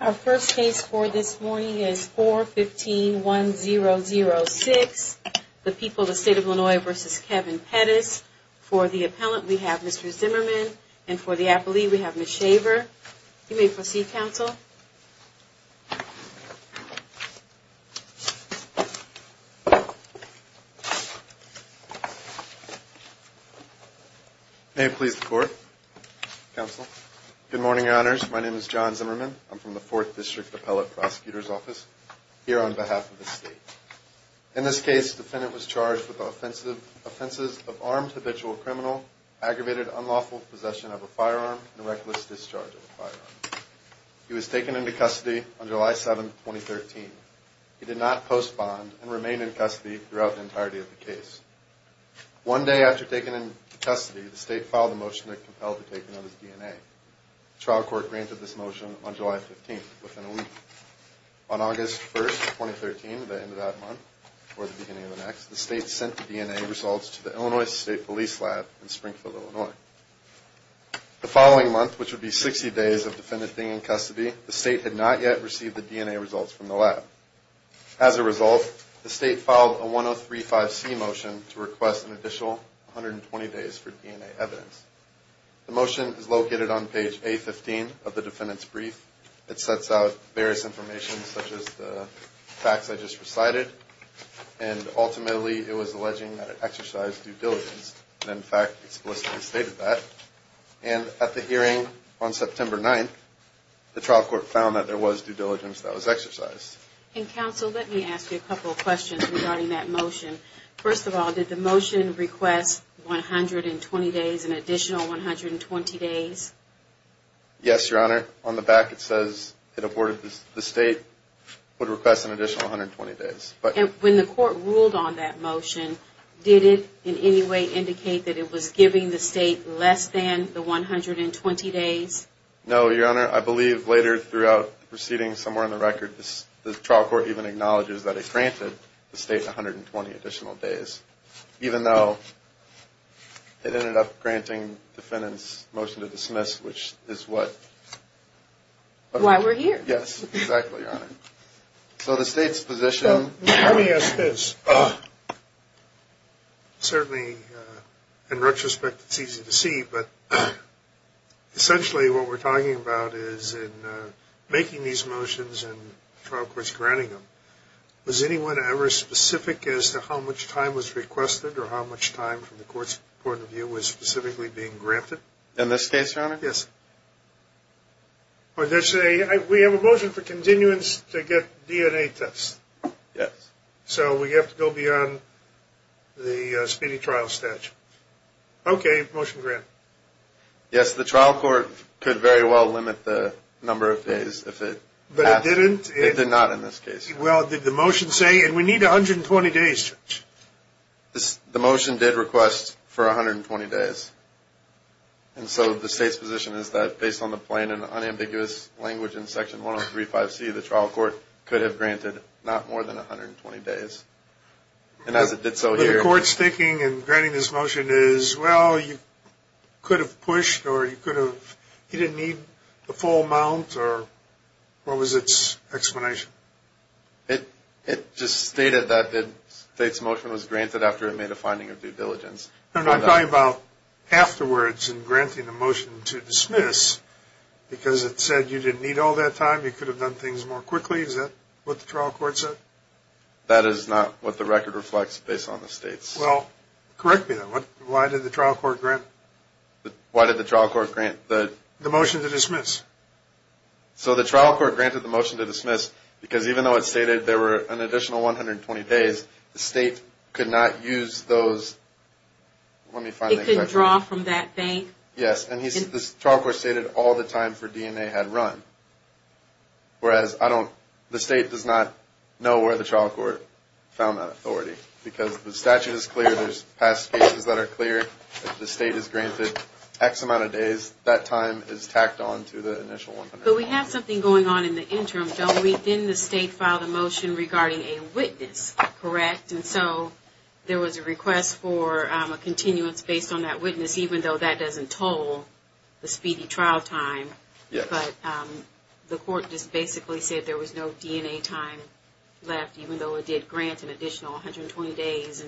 Our first case for this morning is 4151006, The People of the State of Illinois v. Kevin Pettis. For the appellant, we have Mr. Zimmerman, and for the appellee, we have Ms. Shaver. You may proceed, counsel. Mr. Zimmerman May it please the court, counsel. Good morning, Your Honors. My name is John Zimmerman. I'm from the 4th District Appellate Prosecutor's Office, here on behalf of the state. In this case, the defendant was charged with the offenses of armed habitual criminal, aggravated unlawful possession of a firearm, and reckless discharge of a firearm. He was taken into custody on July 7, 2013. He did not postpone and remain in custody throughout the entirety of the case. One day after taking him into custody, the state filed a motion to compel the taking of his DNA. The trial court granted this motion on July 15, within a week. On August 1, 2013, the end of that month, or the beginning of the next, the state sent the DNA results to the Illinois State Police Lab in Springfield, Illinois. The following month, which would be 60 days of the defendant being in custody, the state had not yet received the DNA results from the lab. As a result, the state filed a 103-5C motion to request an additional 120 days for DNA evidence. The motion is located on page A-15 of the defendant's brief. It sets out various information, such as the facts I just recited, and ultimately, it was alleging that it exercised due diligence, and in fact, explicitly stated that. And at the hearing on September 9, the trial court found that there was due diligence that was exercised. And counsel, let me ask you a couple of questions regarding that motion. First of all, did the motion request 120 days, an additional 120 days? Yes, Your Honor. On the back, it says it awarded the state, would request an additional 120 days. And when the court ruled on that motion, did it in any way indicate that it was giving the state less than the 120 days? No, Your Honor. I believe later throughout the proceedings, somewhere in the record, the trial court even acknowledges that it granted the state 120 additional days, even though it ended up granting the defendant's motion to dismiss, which is what... Why we're here. Yes, exactly, Your Honor. So the state's position... Certainly, in retrospect, it's easy to see, but essentially, what we're talking about is in making these motions and trial courts granting them, was anyone ever specific as to how much time was requested or how much time, from the court's point of view, was specifically being granted? In this case, Your Honor? Yes. We have a motion for continuance to get DNA tests. Yes. So we have to go beyond the speedy trial statute. Okay, motion granted. Yes, the trial court could very well limit the number of days if it... But it didn't? It did not in this case. The motion did request for 120 days. And so the state's position is that, based on the plain and unambiguous language in Section 103.5c, the trial court could have granted not more than 120 days. And as it did so here... But the court's thinking in granting this motion is, well, you could have pushed, or you could have... He didn't need the full amount, or what was its explanation? It just stated that the state's motion was granted after it made a finding of due diligence. I'm talking about afterwards, in granting the motion to dismiss, because it said you didn't need all that time, you could have done things more quickly. Is that what the trial court said? That is not what the record reflects, based on the state's... Well, correct me then. Why did the trial court grant... Why did the trial court grant the... The motion to dismiss. So the trial court granted the motion to dismiss, because even though it stated there were an additional 120 days, the state could not use those... It could draw from that bank? Yes. And the trial court stated all the time for DNA had run. Whereas, I don't... The state does not know where the trial court found that authority. Because the statute is clear, there's past cases that are clear. If the state has granted X amount of days, that time is tacked on to the initial... But we have something going on in the interim, don't we? Then the state filed a motion regarding a witness, correct? And so there was a request for a continuance based on that witness, even though that doesn't toll the speedy trial time. Yes. But the court just basically said there was no DNA time left, even though it did grant an additional 120 days.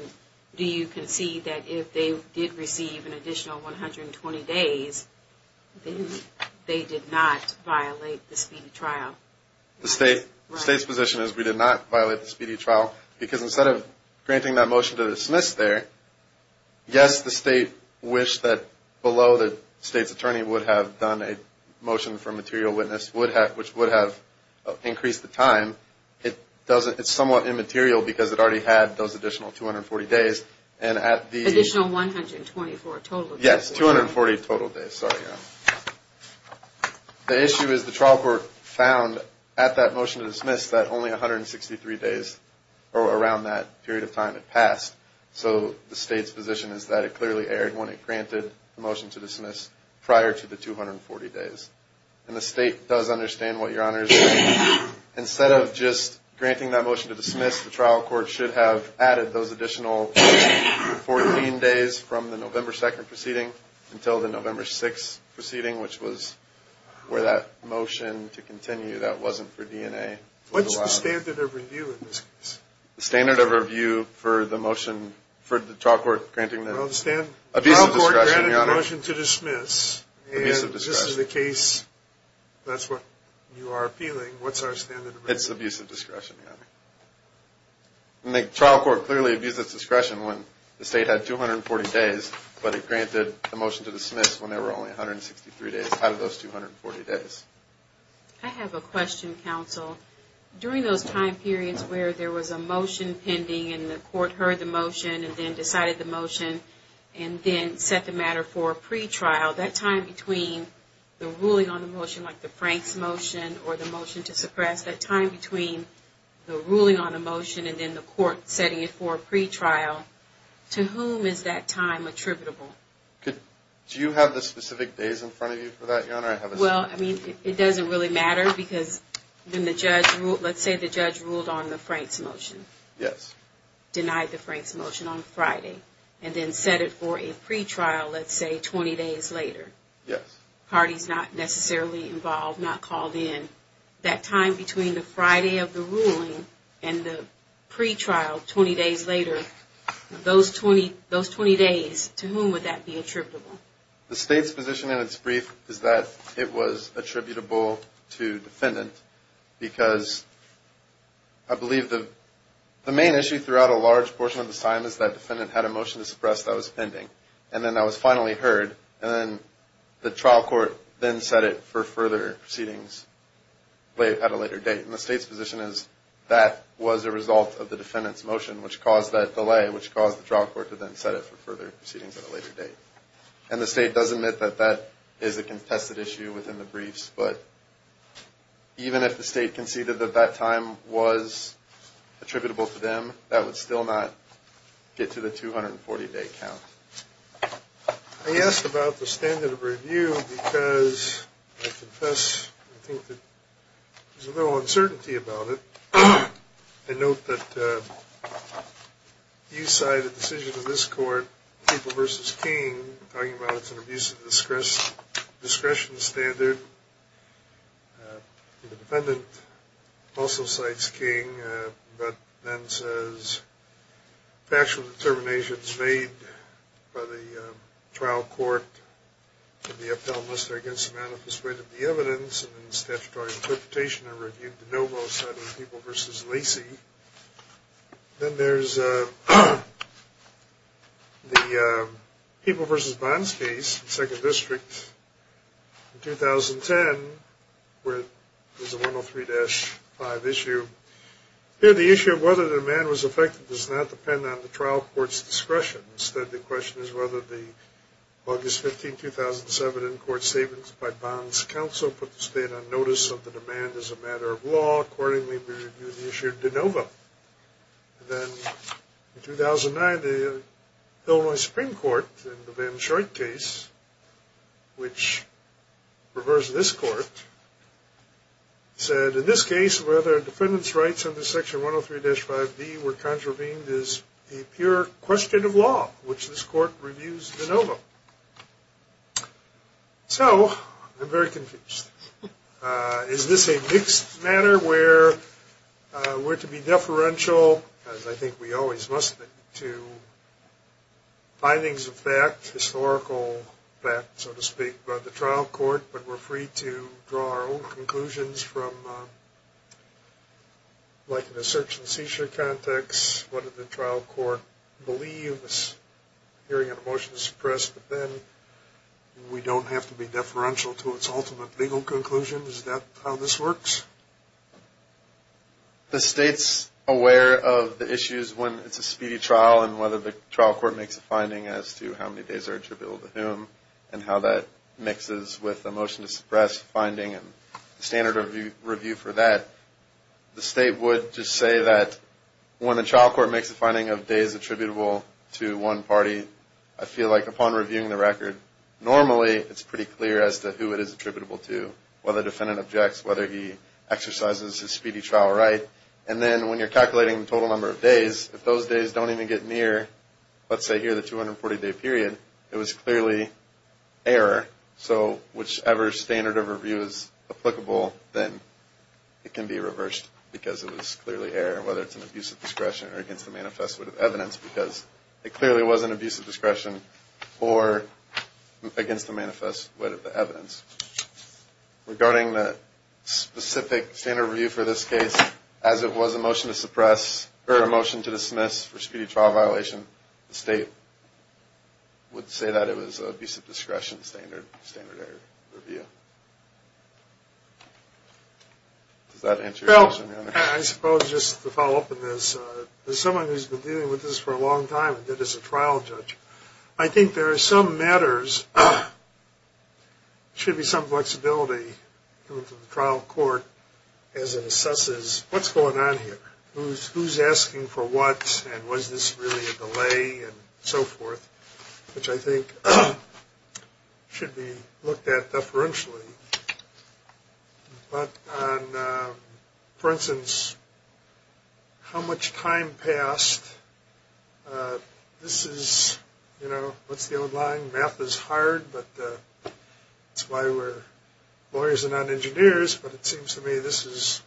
Do you concede that if they did receive an additional 120 days, they did not violate the speedy trial? The state's position is we did not violate the speedy trial, because instead of granting that motion to dismiss there, Yes, the state wished that below the state's attorney would have done a motion for a material witness, which would have increased the time. It's somewhat immaterial because it already had those additional 240 days. Additional 124 total days. The issue is the trial court found at that motion to dismiss that only 163 days, or around that period of time, had passed. So the state's position is that it clearly erred when it granted the motion to dismiss prior to the 240 days. And the state does understand what Your Honor is doing. Instead of just granting that motion to dismiss, the trial court should have added those additional 14 days from the November 2nd proceeding until the November 6th proceeding, which was where that motion to continue that wasn't for DNA. What's the standard of review in this case? The standard of review for the trial court granting the abusive discretion, Your Honor. Well, the trial court granted the motion to dismiss, and this is the case, that's what you are appealing. What's our standard of review? It's abusive discretion, Your Honor. And the trial court clearly abused its discretion when the state had 240 days, but it granted the motion to dismiss when there were only 163 days out of those 240 days. I have a question, counsel. During those time periods where there was a motion pending and the court heard the motion and then decided the motion and then set the matter for a pretrial, that time between the ruling on the motion, like the Franks motion or the motion to suppress, that time between the ruling on a motion and then the court setting it for a pretrial, to whom is that time attributable? Do you have the specific days in front of you for that, Your Honor? Well, I mean, it doesn't really matter because, let's say the judge ruled on the Franks motion. Yes. Denied the Franks motion on Friday, and then set it for a pretrial, let's say, 20 days later. Yes. Parties not necessarily involved, not called in. That time between the Friday of the ruling and the pretrial 20 days later, those 20 days, to whom would that be attributable? The state's position in its brief is that it was attributable to defendant because I believe the main issue throughout a large portion of the time is that defendant had a motion to suppress that was pending. And then that was finally heard. And then the trial court then set it for further proceedings at a later date. And the state's position is that was a result of the defendant's motion, which caused that delay, which caused the trial court to then set it for further proceedings at a later date. And the state does admit that that is a contested issue within the briefs. But even if the state conceded that that time was attributable to them, that would still not get to the 240-day count. I asked about the standard of review because I confess I think that there's a little uncertainty about it. I note that you cite a decision of this court, People v. King, talking about it's an abuse of discretion standard. The defendant also cites King, but then says factual determinations made by the trial court against the manifest weight of the evidence and the statutory interpretation are reviewed to no most out of the People v. Lacey. Then there's the People v. Bonskis, 2nd District, 2010, where there's a 103-5 issue. Here the issue of whether the man was affected does not depend on the trial court's discretion. Instead, the question is whether the August 15, 2007, in-court statements by Bonskis Council put the state on notice of the demand as a matter of law. Accordingly, we review the issue of de novo. Then in 2009, the Illinois Supreme Court, in the Van Shortt case, which reversed this court, said in this case whether defendants' rights under Section 103-5B were contravened is a pure question of law, which this court reviews de novo. So, I'm very confused. Is this a mixed matter where we're to be deferential, as I think we always must be, to findings of fact, historical fact, so to speak, by the trial court, but we're free to draw our own conclusions from, like in a search-and-seizure context, whether the trial court believes hearing an emotion is suppressed, but then we don't have to be deferential to its ultimate legal conclusion? Is that how this works? The state's aware of the issues when it's a speedy trial and whether the trial court makes a finding as to how many days are attributable to whom and how that mixes with the emotion-to-suppress finding and standard review for that. The state would just say that when a trial court makes a finding of days attributable to one party, I feel like upon reviewing the record, normally it's pretty clear as to who it is attributable to, whether the defendant objects, whether he exercises his speedy trial right, and then when you're calculating the total number of days, if those days don't even get near, let's say here, the 240-day period, it was clearly error. So, whichever standard of review is applicable, then it can be reversed because it was clearly error, whether it's an abuse of discretion or against the manifest with evidence because it clearly was an abuse of discretion or against the manifest with evidence. Regarding the specific standard review for this case, as it was a motion to suppress, or a motion to dismiss for speedy trial violation, the state would say that it was an abuse of discretion standard error review. Does that answer your question, Your Honor? I suppose just to follow up on this, as someone who's been dealing with this for a long time and did this as a trial judge, I think there are some matters, there should be some flexibility in the trial court as it assesses what's going on here, who's asking for what, and was this really a delay, and so forth, which I think should be looked at deferentially. But on, for instance, how much time passed, this is, you know, what's the old line? Math is hard, but that's why we're lawyers and not engineers, but it seems to me this is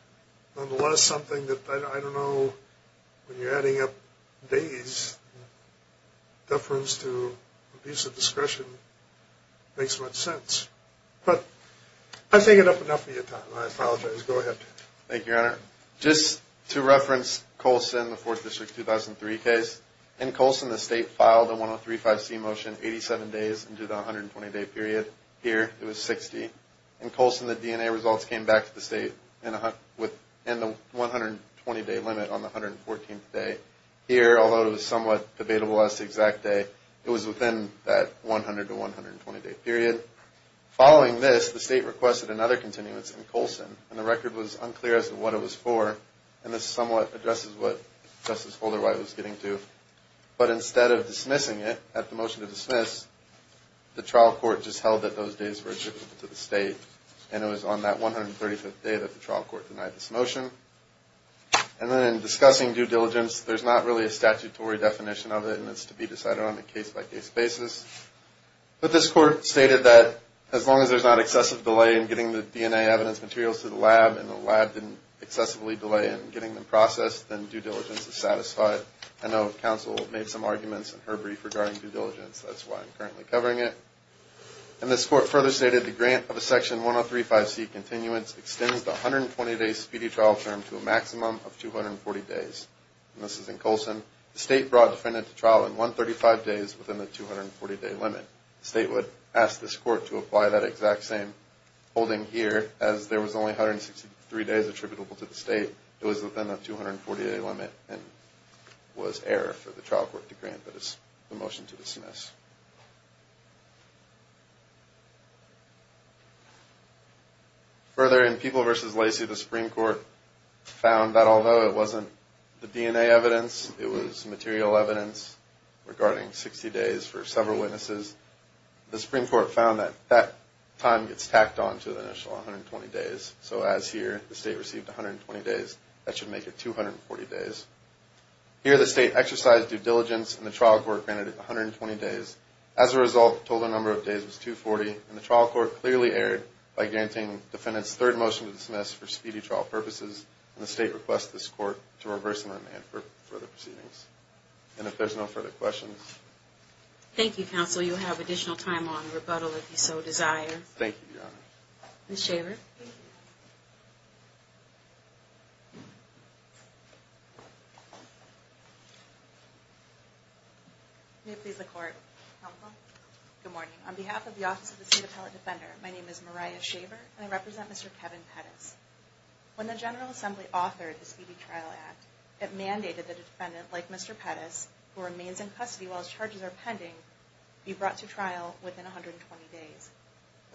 nonetheless something that, I don't know, when you're adding up days, deference to abuse of discretion makes much sense. But I've taken up enough of your time. I apologize. Go ahead. Thank you, Your Honor. Just to reference Colson, the 4th District 2003 case, in Colson the state filed a 103-5C motion 87 days into the 120-day period. Here it was 60. In Colson the DNA results came back to the state in the 120-day limit on the 114th day. Here, although it was somewhat debatable as to the exact day, it was within that 100- to 120-day period. Following this, the state requested another continuance in Colson, and the record was unclear as to what it was for, and this somewhat addresses what Justice Holderwhite was getting to. But instead of dismissing it at the motion to dismiss, the trial court just held that those days were attributable to the state, and it was on that 135th day that the trial court denied this motion. And then in discussing due diligence, there's not really a statutory definition of it, and it's to be decided on a case-by-case basis. But this court stated that as long as there's not excessive delay in getting the DNA evidence materials to the lab, and the lab didn't excessively delay in getting them processed, then due diligence is satisfied. I know counsel made some arguments in her brief regarding due diligence. That's why I'm currently covering it. And this court further stated the grant of a Section 103-5C continuance extends the 120-day speedy trial term to a maximum of 240 days. And this is in Colson. The state brought a defendant to trial in 135 days within the 240-day limit. The state would ask this court to apply that exact same holding here. As there was only 163 days attributable to the state, it was within the 240-day limit and was error for the trial court to grant the motion to dismiss. Further, in People v. Lacey, the Supreme Court found that although it wasn't the DNA evidence, it was material evidence regarding 60 days for several witnesses, the Supreme Court found that that time gets tacked on to the initial 120 days. So as here, the state received 120 days. That should make it 240 days. Here, the state exercised due diligence, and the trial court granted it 120 days. As a result, the total number of days was 240, and the trial court clearly erred by granting the defendant's third motion to dismiss for speedy trial purposes, and the state requests this court to reverse the amendment for further proceedings. And if there's no further questions. Thank you, counsel. You'll have additional time on rebuttal if you so desire. Thank you, Your Honor. Ms. Shaver. Thank you. May it please the court. Good morning. On behalf of the Office of the State Appellate Defender, my name is Mariah Shaver, and I represent Mr. Kevin Pettis. When the General Assembly authored the Speedy Trial Act, it mandated that a defendant like Mr. Pettis, who remains in custody while his charges are pending, be brought to trial within 120 days.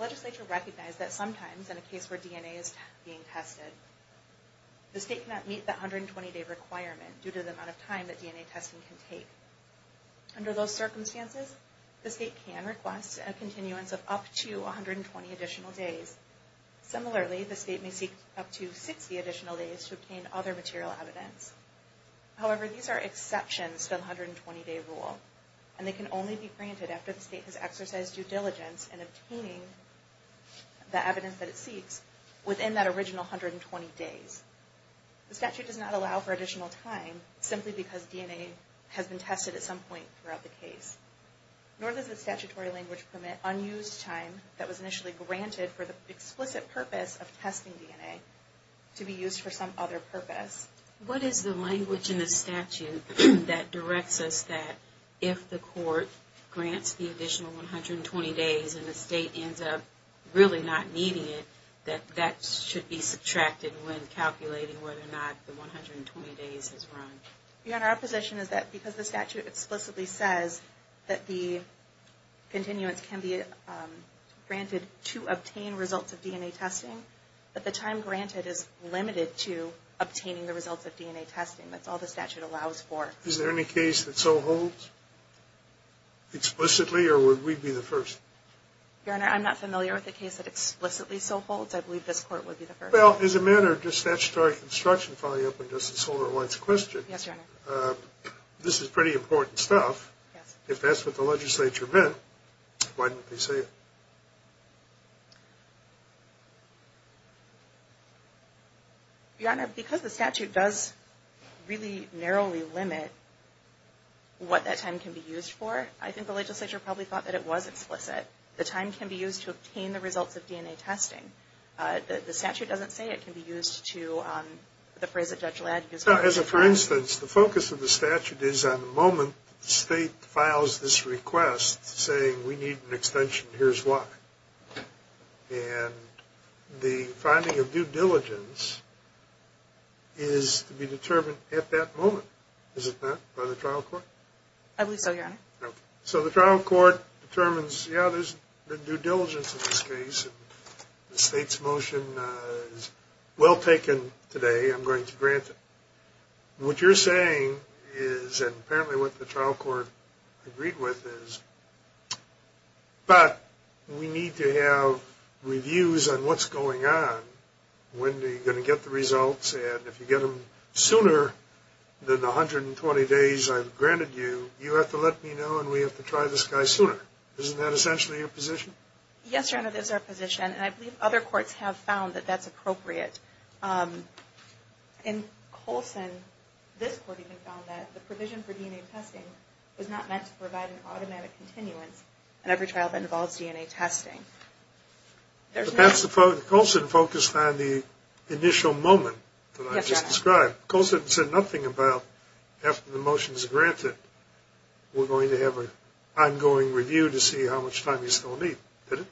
Legislature recognized that sometimes in a case where DNA is being tested, the state cannot meet the 120-day requirement due to the amount of time that DNA testing can take. Under those circumstances, the state can request a continuance of up to 120 additional days. Similarly, the state may seek up to 60 additional days to obtain other material evidence. However, these are exceptions to the 120-day rule, and they can only be granted after the state has exercised due diligence in obtaining the evidence that it seeks within that original 120 days. The statute does not allow for additional time simply because DNA has been tested at some point throughout the case, nor does the statutory language permit unused time that was initially granted for the explicit purpose of testing DNA to be used for some other purpose. What is the language in the statute that directs us that if the court grants the additional 120 days and the state ends up really not needing it, that that should be subtracted when calculating whether or not the 120 days is wrong? Your Honor, our position is that because the statute explicitly says that the continuance can be granted to obtain results of DNA testing, that the time granted is limited to obtaining the results of DNA testing. That's all the statute allows for. Is there any case that so holds explicitly, or would we be the first? Your Honor, I'm not familiar with a case that explicitly so holds. I believe this court would be the first. Well, as a matter of just statutory construction, following up on Justice Holder White's question, this is pretty important stuff. If that's what the legislature meant, why didn't they say it? Your Honor, because the statute does really narrowly limit what that time can be used for, I think the legislature probably thought that it was explicit. The time can be used to obtain the results of DNA testing. The statute doesn't say it can be used to the phrase that Judge Ladd used. For instance, the focus of the statute is on the moment the state files this request saying we need an extension, here's why. And the finding of due diligence is to be determined at that moment, is it not, by the trial court? I believe so, Your Honor. So the trial court determines, yeah, there's due diligence in this case, and the state's motion is well taken today, I'm going to grant it. What you're saying is, and apparently what the trial court agreed with, is but we need to have reviews on what's going on, when are you going to get the results, and if you get them sooner than the 120 days I've granted you, you have to let me know and we have to try this guy sooner. Isn't that essentially your position? Yes, Your Honor, that is our position, and I believe other courts have found that that's appropriate. In Colson, this court even found that the provision for DNA testing was not meant to provide an automatic continuance in every trial that involves DNA testing. Colson focused on the initial moment that I just described. Colson said nothing about after the motion is granted, we're going to have an ongoing review to see how much time he's going to need. Did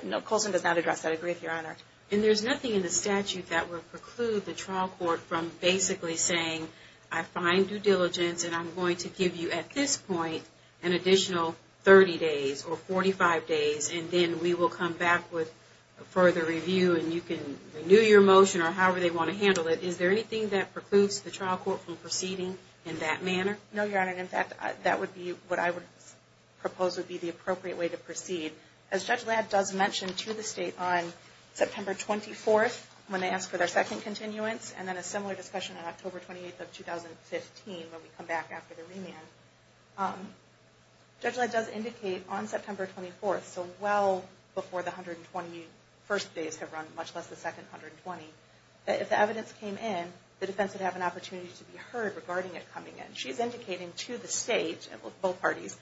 he? No, Colson does not address that. I agree with you, Your Honor. And there's nothing in the statute that would preclude the trial court from basically saying I find due diligence and I'm going to give you at this point an additional 30 days or 45 days, and then we will come back with a further review and you can renew your motion or however they want to handle it. Is there anything that precludes the trial court from proceeding in that manner? No, Your Honor. In fact, that would be what I would propose would be the appropriate way to proceed. As Judge Ladd does mention to the State on September 24th when they ask for their second continuance and then a similar discussion on October 28th of 2015 when we come back after the remand, Judge Ladd does indicate on September 24th, so well before the 121st days have run, much less the second 120, that if the evidence came in, the defense would have an opportunity to be heard regarding it coming in. She's indicating to the State and both parties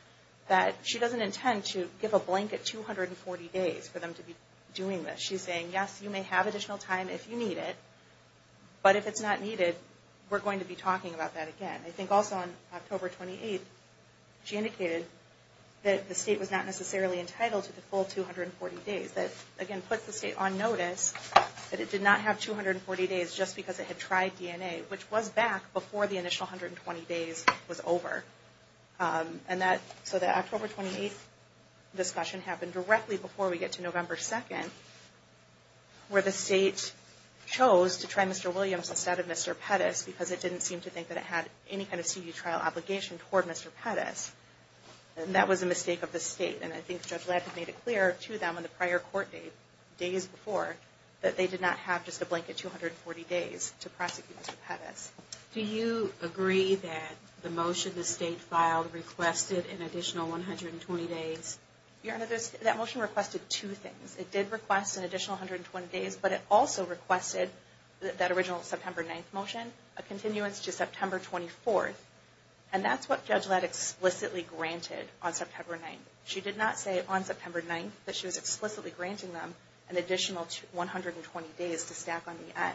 that she doesn't intend to give a blanket 240 days for them to be doing this. She's saying, yes, you may have additional time if you need it, but if it's not needed, we're going to be talking about that again. I think also on October 28th, she indicated that the State was not necessarily entitled to the full 240 days. That, again, puts the State on notice that it did not have 240 days just because it had tried DNA, which was back before the initial 120 days was over. So the October 28th discussion happened directly before we get to November 2nd where the State chose to try Mr. Williams instead of Mr. Pettis because it didn't seem to think that it had any kind of C.D. trial obligation toward Mr. Pettis. That was a mistake of the State, and I think Judge Ladd had made it clear to them in the prior court days before that they did not have just a blanket 240 days to prosecute Mr. Pettis. Do you agree that the motion the State filed requested an additional 120 days? Your Honor, that motion requested two things. It did request an additional 120 days, but it also requested that original September 9th motion, a continuance to September 24th, and that's what Judge Ladd explicitly granted on September 9th. She did not say on September 9th that she was explicitly granting them an additional 120 days to stack on the end.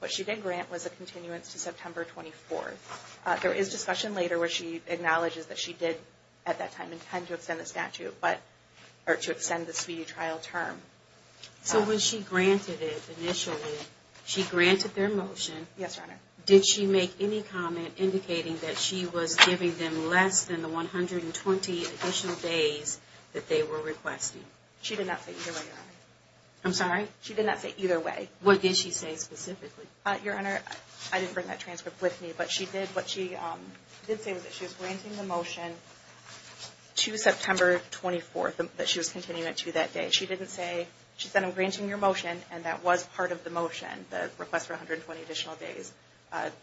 What she did grant was a continuance to September 24th. There is discussion later where she acknowledges that she did at that time intend to extend the statute, or to extend the C.D. trial term. So when she granted it initially, she granted their motion. Yes, Your Honor. Did she make any comment indicating that she was giving them less than the 120 additional days that they were requesting? She did not say either way, Your Honor. I'm sorry? She did not say either way. What did she say specifically? Your Honor, I didn't bring that transcript with me, but what she did say was that she was granting the motion to September 24th, that she was continuing it to that day. She said, I'm granting your motion, and that was part of the motion, the request for 120 additional days.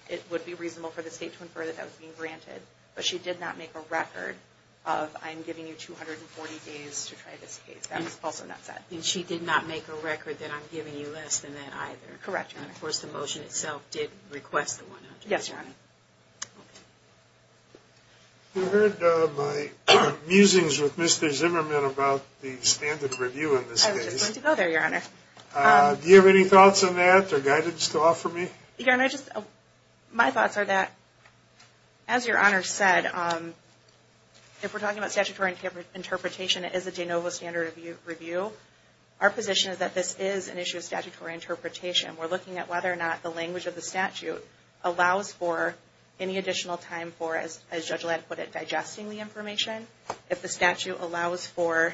It would be reasonable for the State to infer that that was being granted, but she did not make a record of, I'm giving you 240 days to try this case. That was also not said. And she did not make a record that I'm giving you less than that either. Correct, Your Honor. And, of course, the motion itself did request the 120. Yes, Your Honor. Okay. You heard my musings with Mr. Zimmerman about the standard review in this case. I was just going to go there, Your Honor. Do you have any thoughts on that or guidance to offer me? Your Honor, my thoughts are that, as Your Honor said, if we're talking about statutory interpretation, it is a de novo standard review. Our position is that this is an issue of statutory interpretation. We're looking at whether or not the language of the statute allows for any additional time for, as Judge Ladd put it, digesting the information. If the statute allows for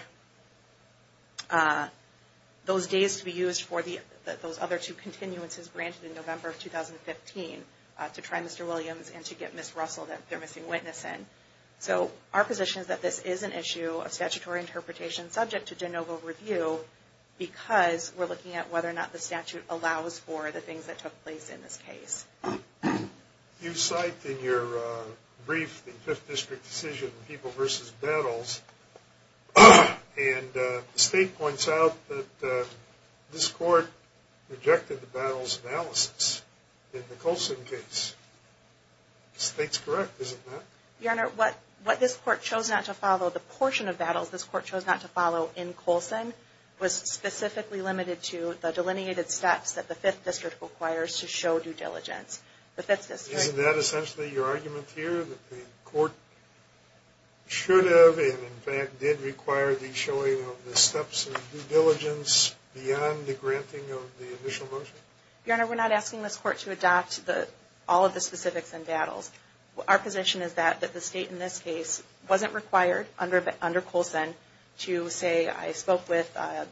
those days to be used for those other two continuances granted in November of 2015 to try Mr. Williams and to get Ms. Russell that they're missing witness in. So our position is that this is an issue of statutory interpretation subject to de novo review because we're looking at whether or not the statute allows for the things that took place in this case. You cite in your brief the Fifth District decision, people versus battles, and the State points out that this Court rejected the battles analysis in the Colson case. The State's correct, isn't it? Your Honor, what this Court chose not to follow, the portion of battles this Court chose not to follow in Colson, was specifically limited to the delineated steps that the Fifth District requires to show due diligence. Isn't that essentially your argument here, that the Court should have, and in fact did require, the showing of the steps of due diligence beyond the granting of the initial motion? Your Honor, we're not asking this Court to adopt all of the specifics in battles. Our position is that the State in this case wasn't required under Colson to say, I spoke with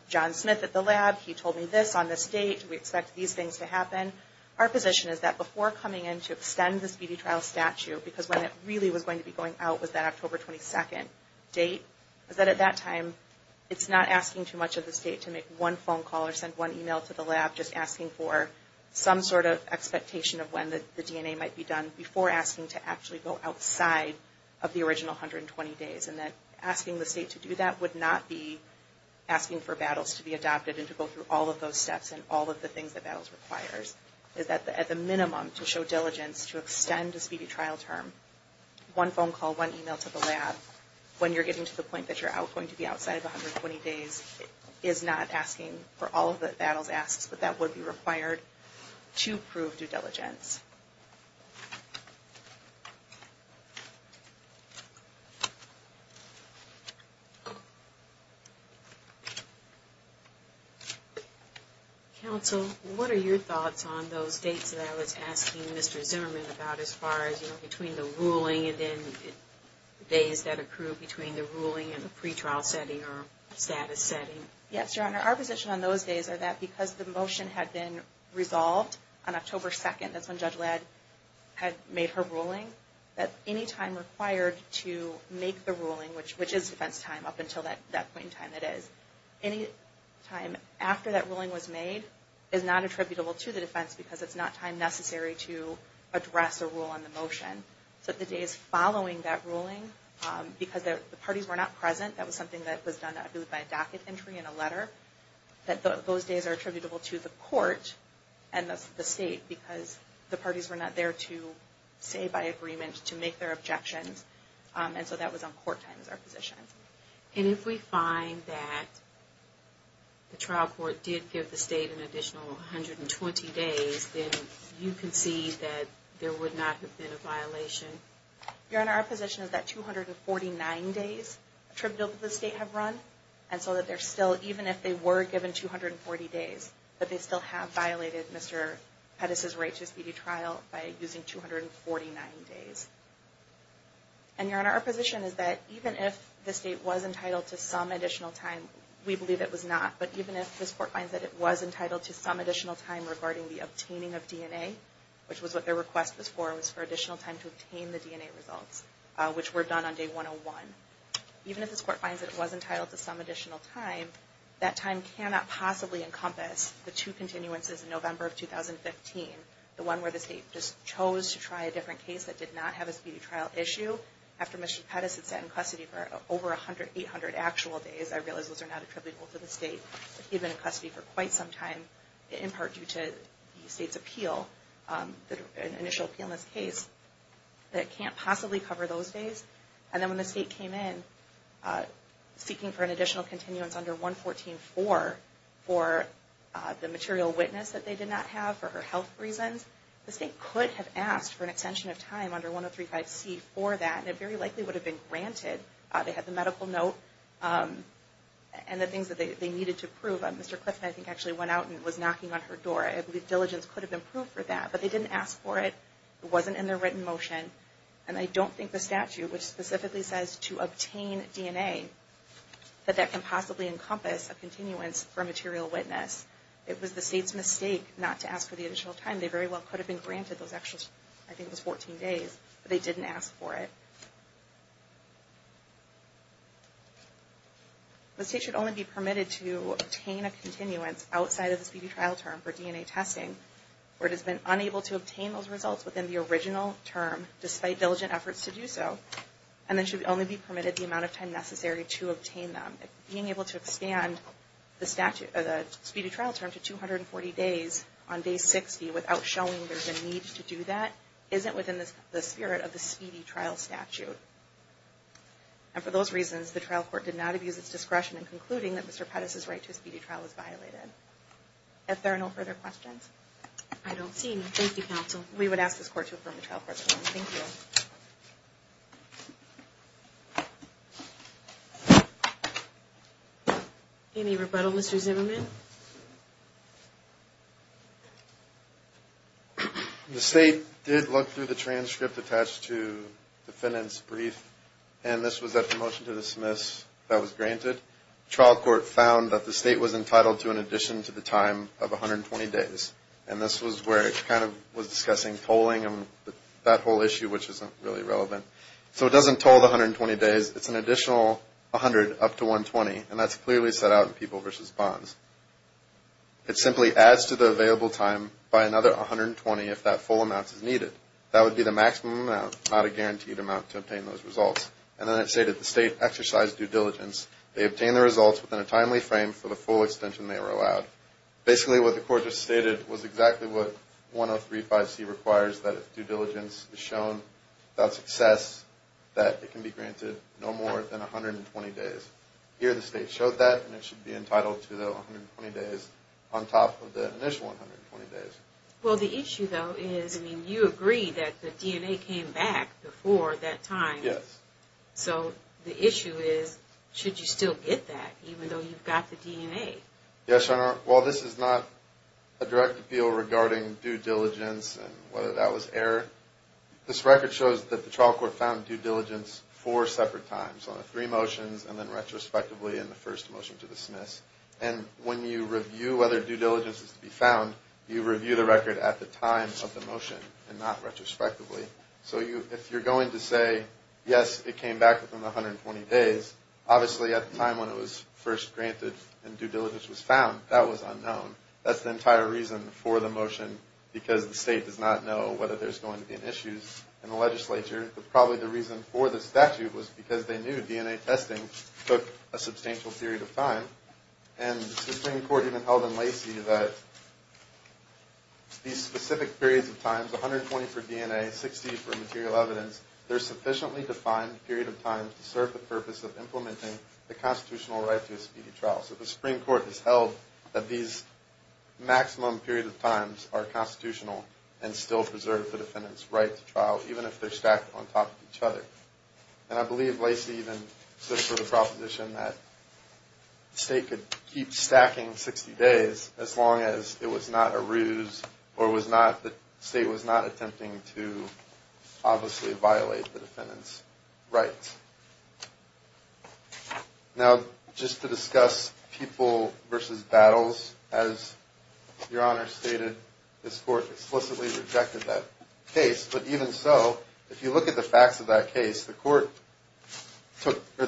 John Smith at the lab, he told me this on this date, we expect these things to happen. Our position is that before coming in to extend this BD trial statute, because when it really was going to be going out was that October 22nd date, is that at that time it's not asking too much of the State to make one phone call or send one email to the lab, just asking for some sort of expectation of when the DNA might be done, before asking to actually go outside of the original 120 days. And that asking the State to do that would not be asking for battles to be adopted, and to go through all of those steps and all of the things that battles requires, is that at the minimum to show diligence to extend this BD trial term, one phone call, one email to the lab, when you're getting to the point that you're going to be outside of 120 days, is not asking for all of the battles asked, but that would be required to prove due diligence. Counsel, what are your thoughts on those dates that I was asking Mr. Zimmerman about, as far as between the ruling and then days that accrue between the ruling and the pretrial setting or status setting? Yes, Your Honor, our position on those days are that because the motion had been resolved on October 2nd, that's when Judge Ladd had made her ruling, that any time required to make the ruling, which is defense time up until that point in time it is, any time after that ruling was made is not attributable to the defense, because it's not time necessary to address a rule on the motion. So the days following that ruling, because the parties were not present, that was something that was done by a docket entry and a letter, that those days are attributable to the court and the state, because the parties were not there to say by agreement, to make their objections, and so that was on court time is our position. And if we find that the trial court did give the state an additional 120 days, then you concede that there would not have been a violation? Your Honor, our position is that 249 days attributable to the state have run, and so that they're still, even if they were given 240 days, that they still have violated Mr. Pettis' right to speedy trial by using 249 days. And Your Honor, our position is that even if the state was entitled to some additional time, we believe it was not, but even if this court finds that it was entitled to some additional time regarding the obtaining of DNA, which was what their request was for, was for additional time to obtain the DNA results, which were done on day 101, even if this court finds that it was entitled to some additional time, that time cannot possibly encompass the two continuances in November of 2015, the one where the state just chose to try a different case that did not have a speedy trial issue, after Mr. Pettis had sat in custody for over 800 actual days, I realize those are not attributable to the state, but he had been in custody for quite some time, in part due to the state's appeal, an initial appeal in this case, that can't possibly cover those days. And then when the state came in seeking for an additional continuance under 114-4 for the material witness that they did not have for her health reasons, the state could have asked for an extension of time under 103-5C for that, and it very likely would have been granted. They had the medical note and the things that they needed to prove. Mr. Clifton, I think, actually went out and was knocking on her door. I believe diligence could have been proved for that, but they didn't ask for it. It wasn't in their written motion. And I don't think the statute, which specifically says to obtain DNA, that that can possibly encompass a continuance for a material witness. It was the state's mistake not to ask for the additional time. They very well could have been granted those extra, I think it was 14 days, but they didn't ask for it. The state should only be permitted to obtain a continuance outside of the speedy trial term for DNA testing, where it has been unable to obtain those results within the original term, despite diligent efforts to do so, and then should only be permitted the amount of time necessary to obtain them. Being able to expand the speedy trial term to 240 days on Day 60 without showing there's a need to do that isn't within the spirit of the speedy trial statute. And for those reasons, the trial court did not abuse its discretion in concluding that Mr. Pettis' right to a speedy trial was violated. If there are no further questions? I don't see any. Thank you, counsel. We would ask this court to affirm the trial court's ruling. Thank you. Any rebuttal, Mr. Zimmerman? The state did look through the transcript attached to the defendant's brief, and this was that promotion to dismiss that was granted. Trial court found that the state was entitled to an addition to the time of 120 days, and this was where it kind of was discussing polling and that whole issue, which isn't really relevant. So it doesn't toll the 120 days. It's an additional 100 up to 120, and that's clearly set out in People v. Bonds. It simply adds to the available time by another 120 if that full amount is needed. That would be the maximum amount, not a guaranteed amount, to obtain those results. And then it stated the state exercised due diligence. They obtained the results within a timely frame for the full extension they were allowed. Basically, what the court just stated was exactly what 103.5c requires, that if due diligence is shown without success, that it can be granted no more than 120 days. Here the state showed that, and it should be entitled to the 120 days on top of the initial 120 days. Well, the issue, though, is, I mean, you agree that the DNA came back before that time. Yes. So the issue is, should you still get that even though you've got the DNA? Yes, Your Honor. Well, this is not a direct appeal regarding due diligence and whether that was error. This record shows that the trial court found due diligence four separate times, on the three motions and then retrospectively in the first motion to dismiss. And when you review whether due diligence is to be found, you review the record at the time of the motion and not retrospectively. So if you're going to say, yes, it came back within 120 days, obviously at the time when it was first granted and due diligence was found, that was unknown. That's the entire reason for the motion, because the state does not know whether there's going to be an issue in the legislature. But probably the reason for the statute was because they knew DNA testing took a substantial period of time. And the Supreme Court even held in Lacey that these specific periods of time, 120 for DNA, 60 for material evidence, they're sufficiently defined period of time to serve the purpose of implementing the constitutional right to a speedy trial. So the Supreme Court has held that these maximum period of times are constitutional and still preserve the defendant's right to trial, even if they're stacked on top of each other. And I believe Lacey even stood for the proposition that the state could keep stacking 60 days as long as it was not a ruse or the state was not attempting to obviously violate the defendant's rights. Now, just to discuss people versus battles, as Your Honor stated, this court explicitly rejected that case. But even so, if you look at the facts of that case, the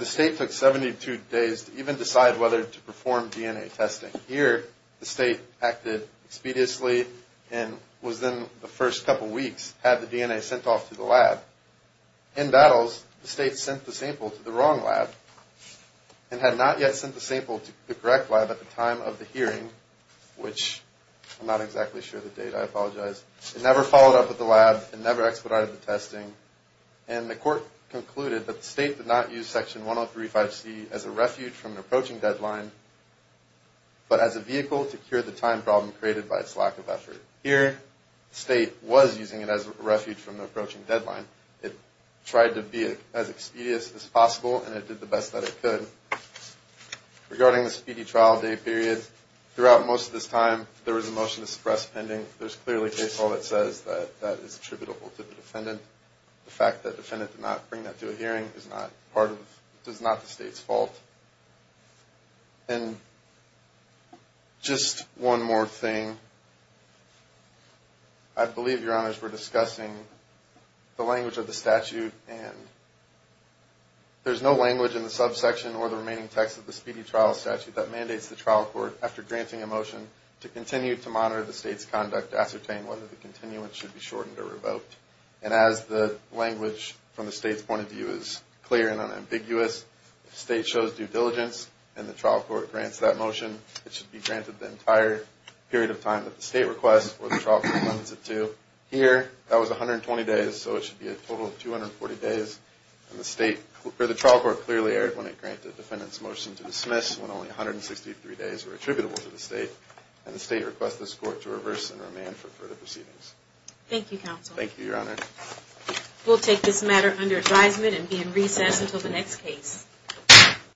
state took 72 days to even decide whether to perform DNA testing. Here, the state acted expeditiously and within the first couple weeks had the DNA sent off to the lab. In battles, the state sent the sample to the wrong lab and had not yet sent the sample to the correct lab at the time of the hearing, which I'm not exactly sure of the date. I apologize. It never followed up with the lab. It never expedited the testing. And the court concluded that the state did not use Section 103.5c as a refuge from an approaching deadline, but as a vehicle to cure the time problem created by its lack of effort. Here, the state was using it as a refuge from the approaching deadline. It tried to be as expeditious as possible, and it did the best that it could. Regarding the speedy trial day period, throughout most of this time, there was a motion to suppress pending. There's clearly case law that says that that is attributable to the defendant. The fact that the defendant did not bring that to a hearing is not part of, is not the state's fault. And just one more thing. I believe, Your Honors, we're discussing the language of the statute. And there's no language in the subsection or the remaining text of the speedy trial statute that mandates the trial court, after granting a motion, to continue to monitor the state's conduct to ascertain whether the continuance should be shortened or revoked. And as the language from the state's point of view is clear and unambiguous, if the state shows due diligence and the trial court grants that motion, it should be granted the entire period of time that the state requests or the trial court limits it to. Here, that was 120 days, so it should be a total of 240 days. And the state, or the trial court clearly erred when it granted the defendant's motion to dismiss, when only 163 days were attributable to the state. And the state requests this court to reverse and remand for further proceedings. Thank you, Counsel. Thank you, Your Honor. We'll take this matter under advisement and be in recess until the next case.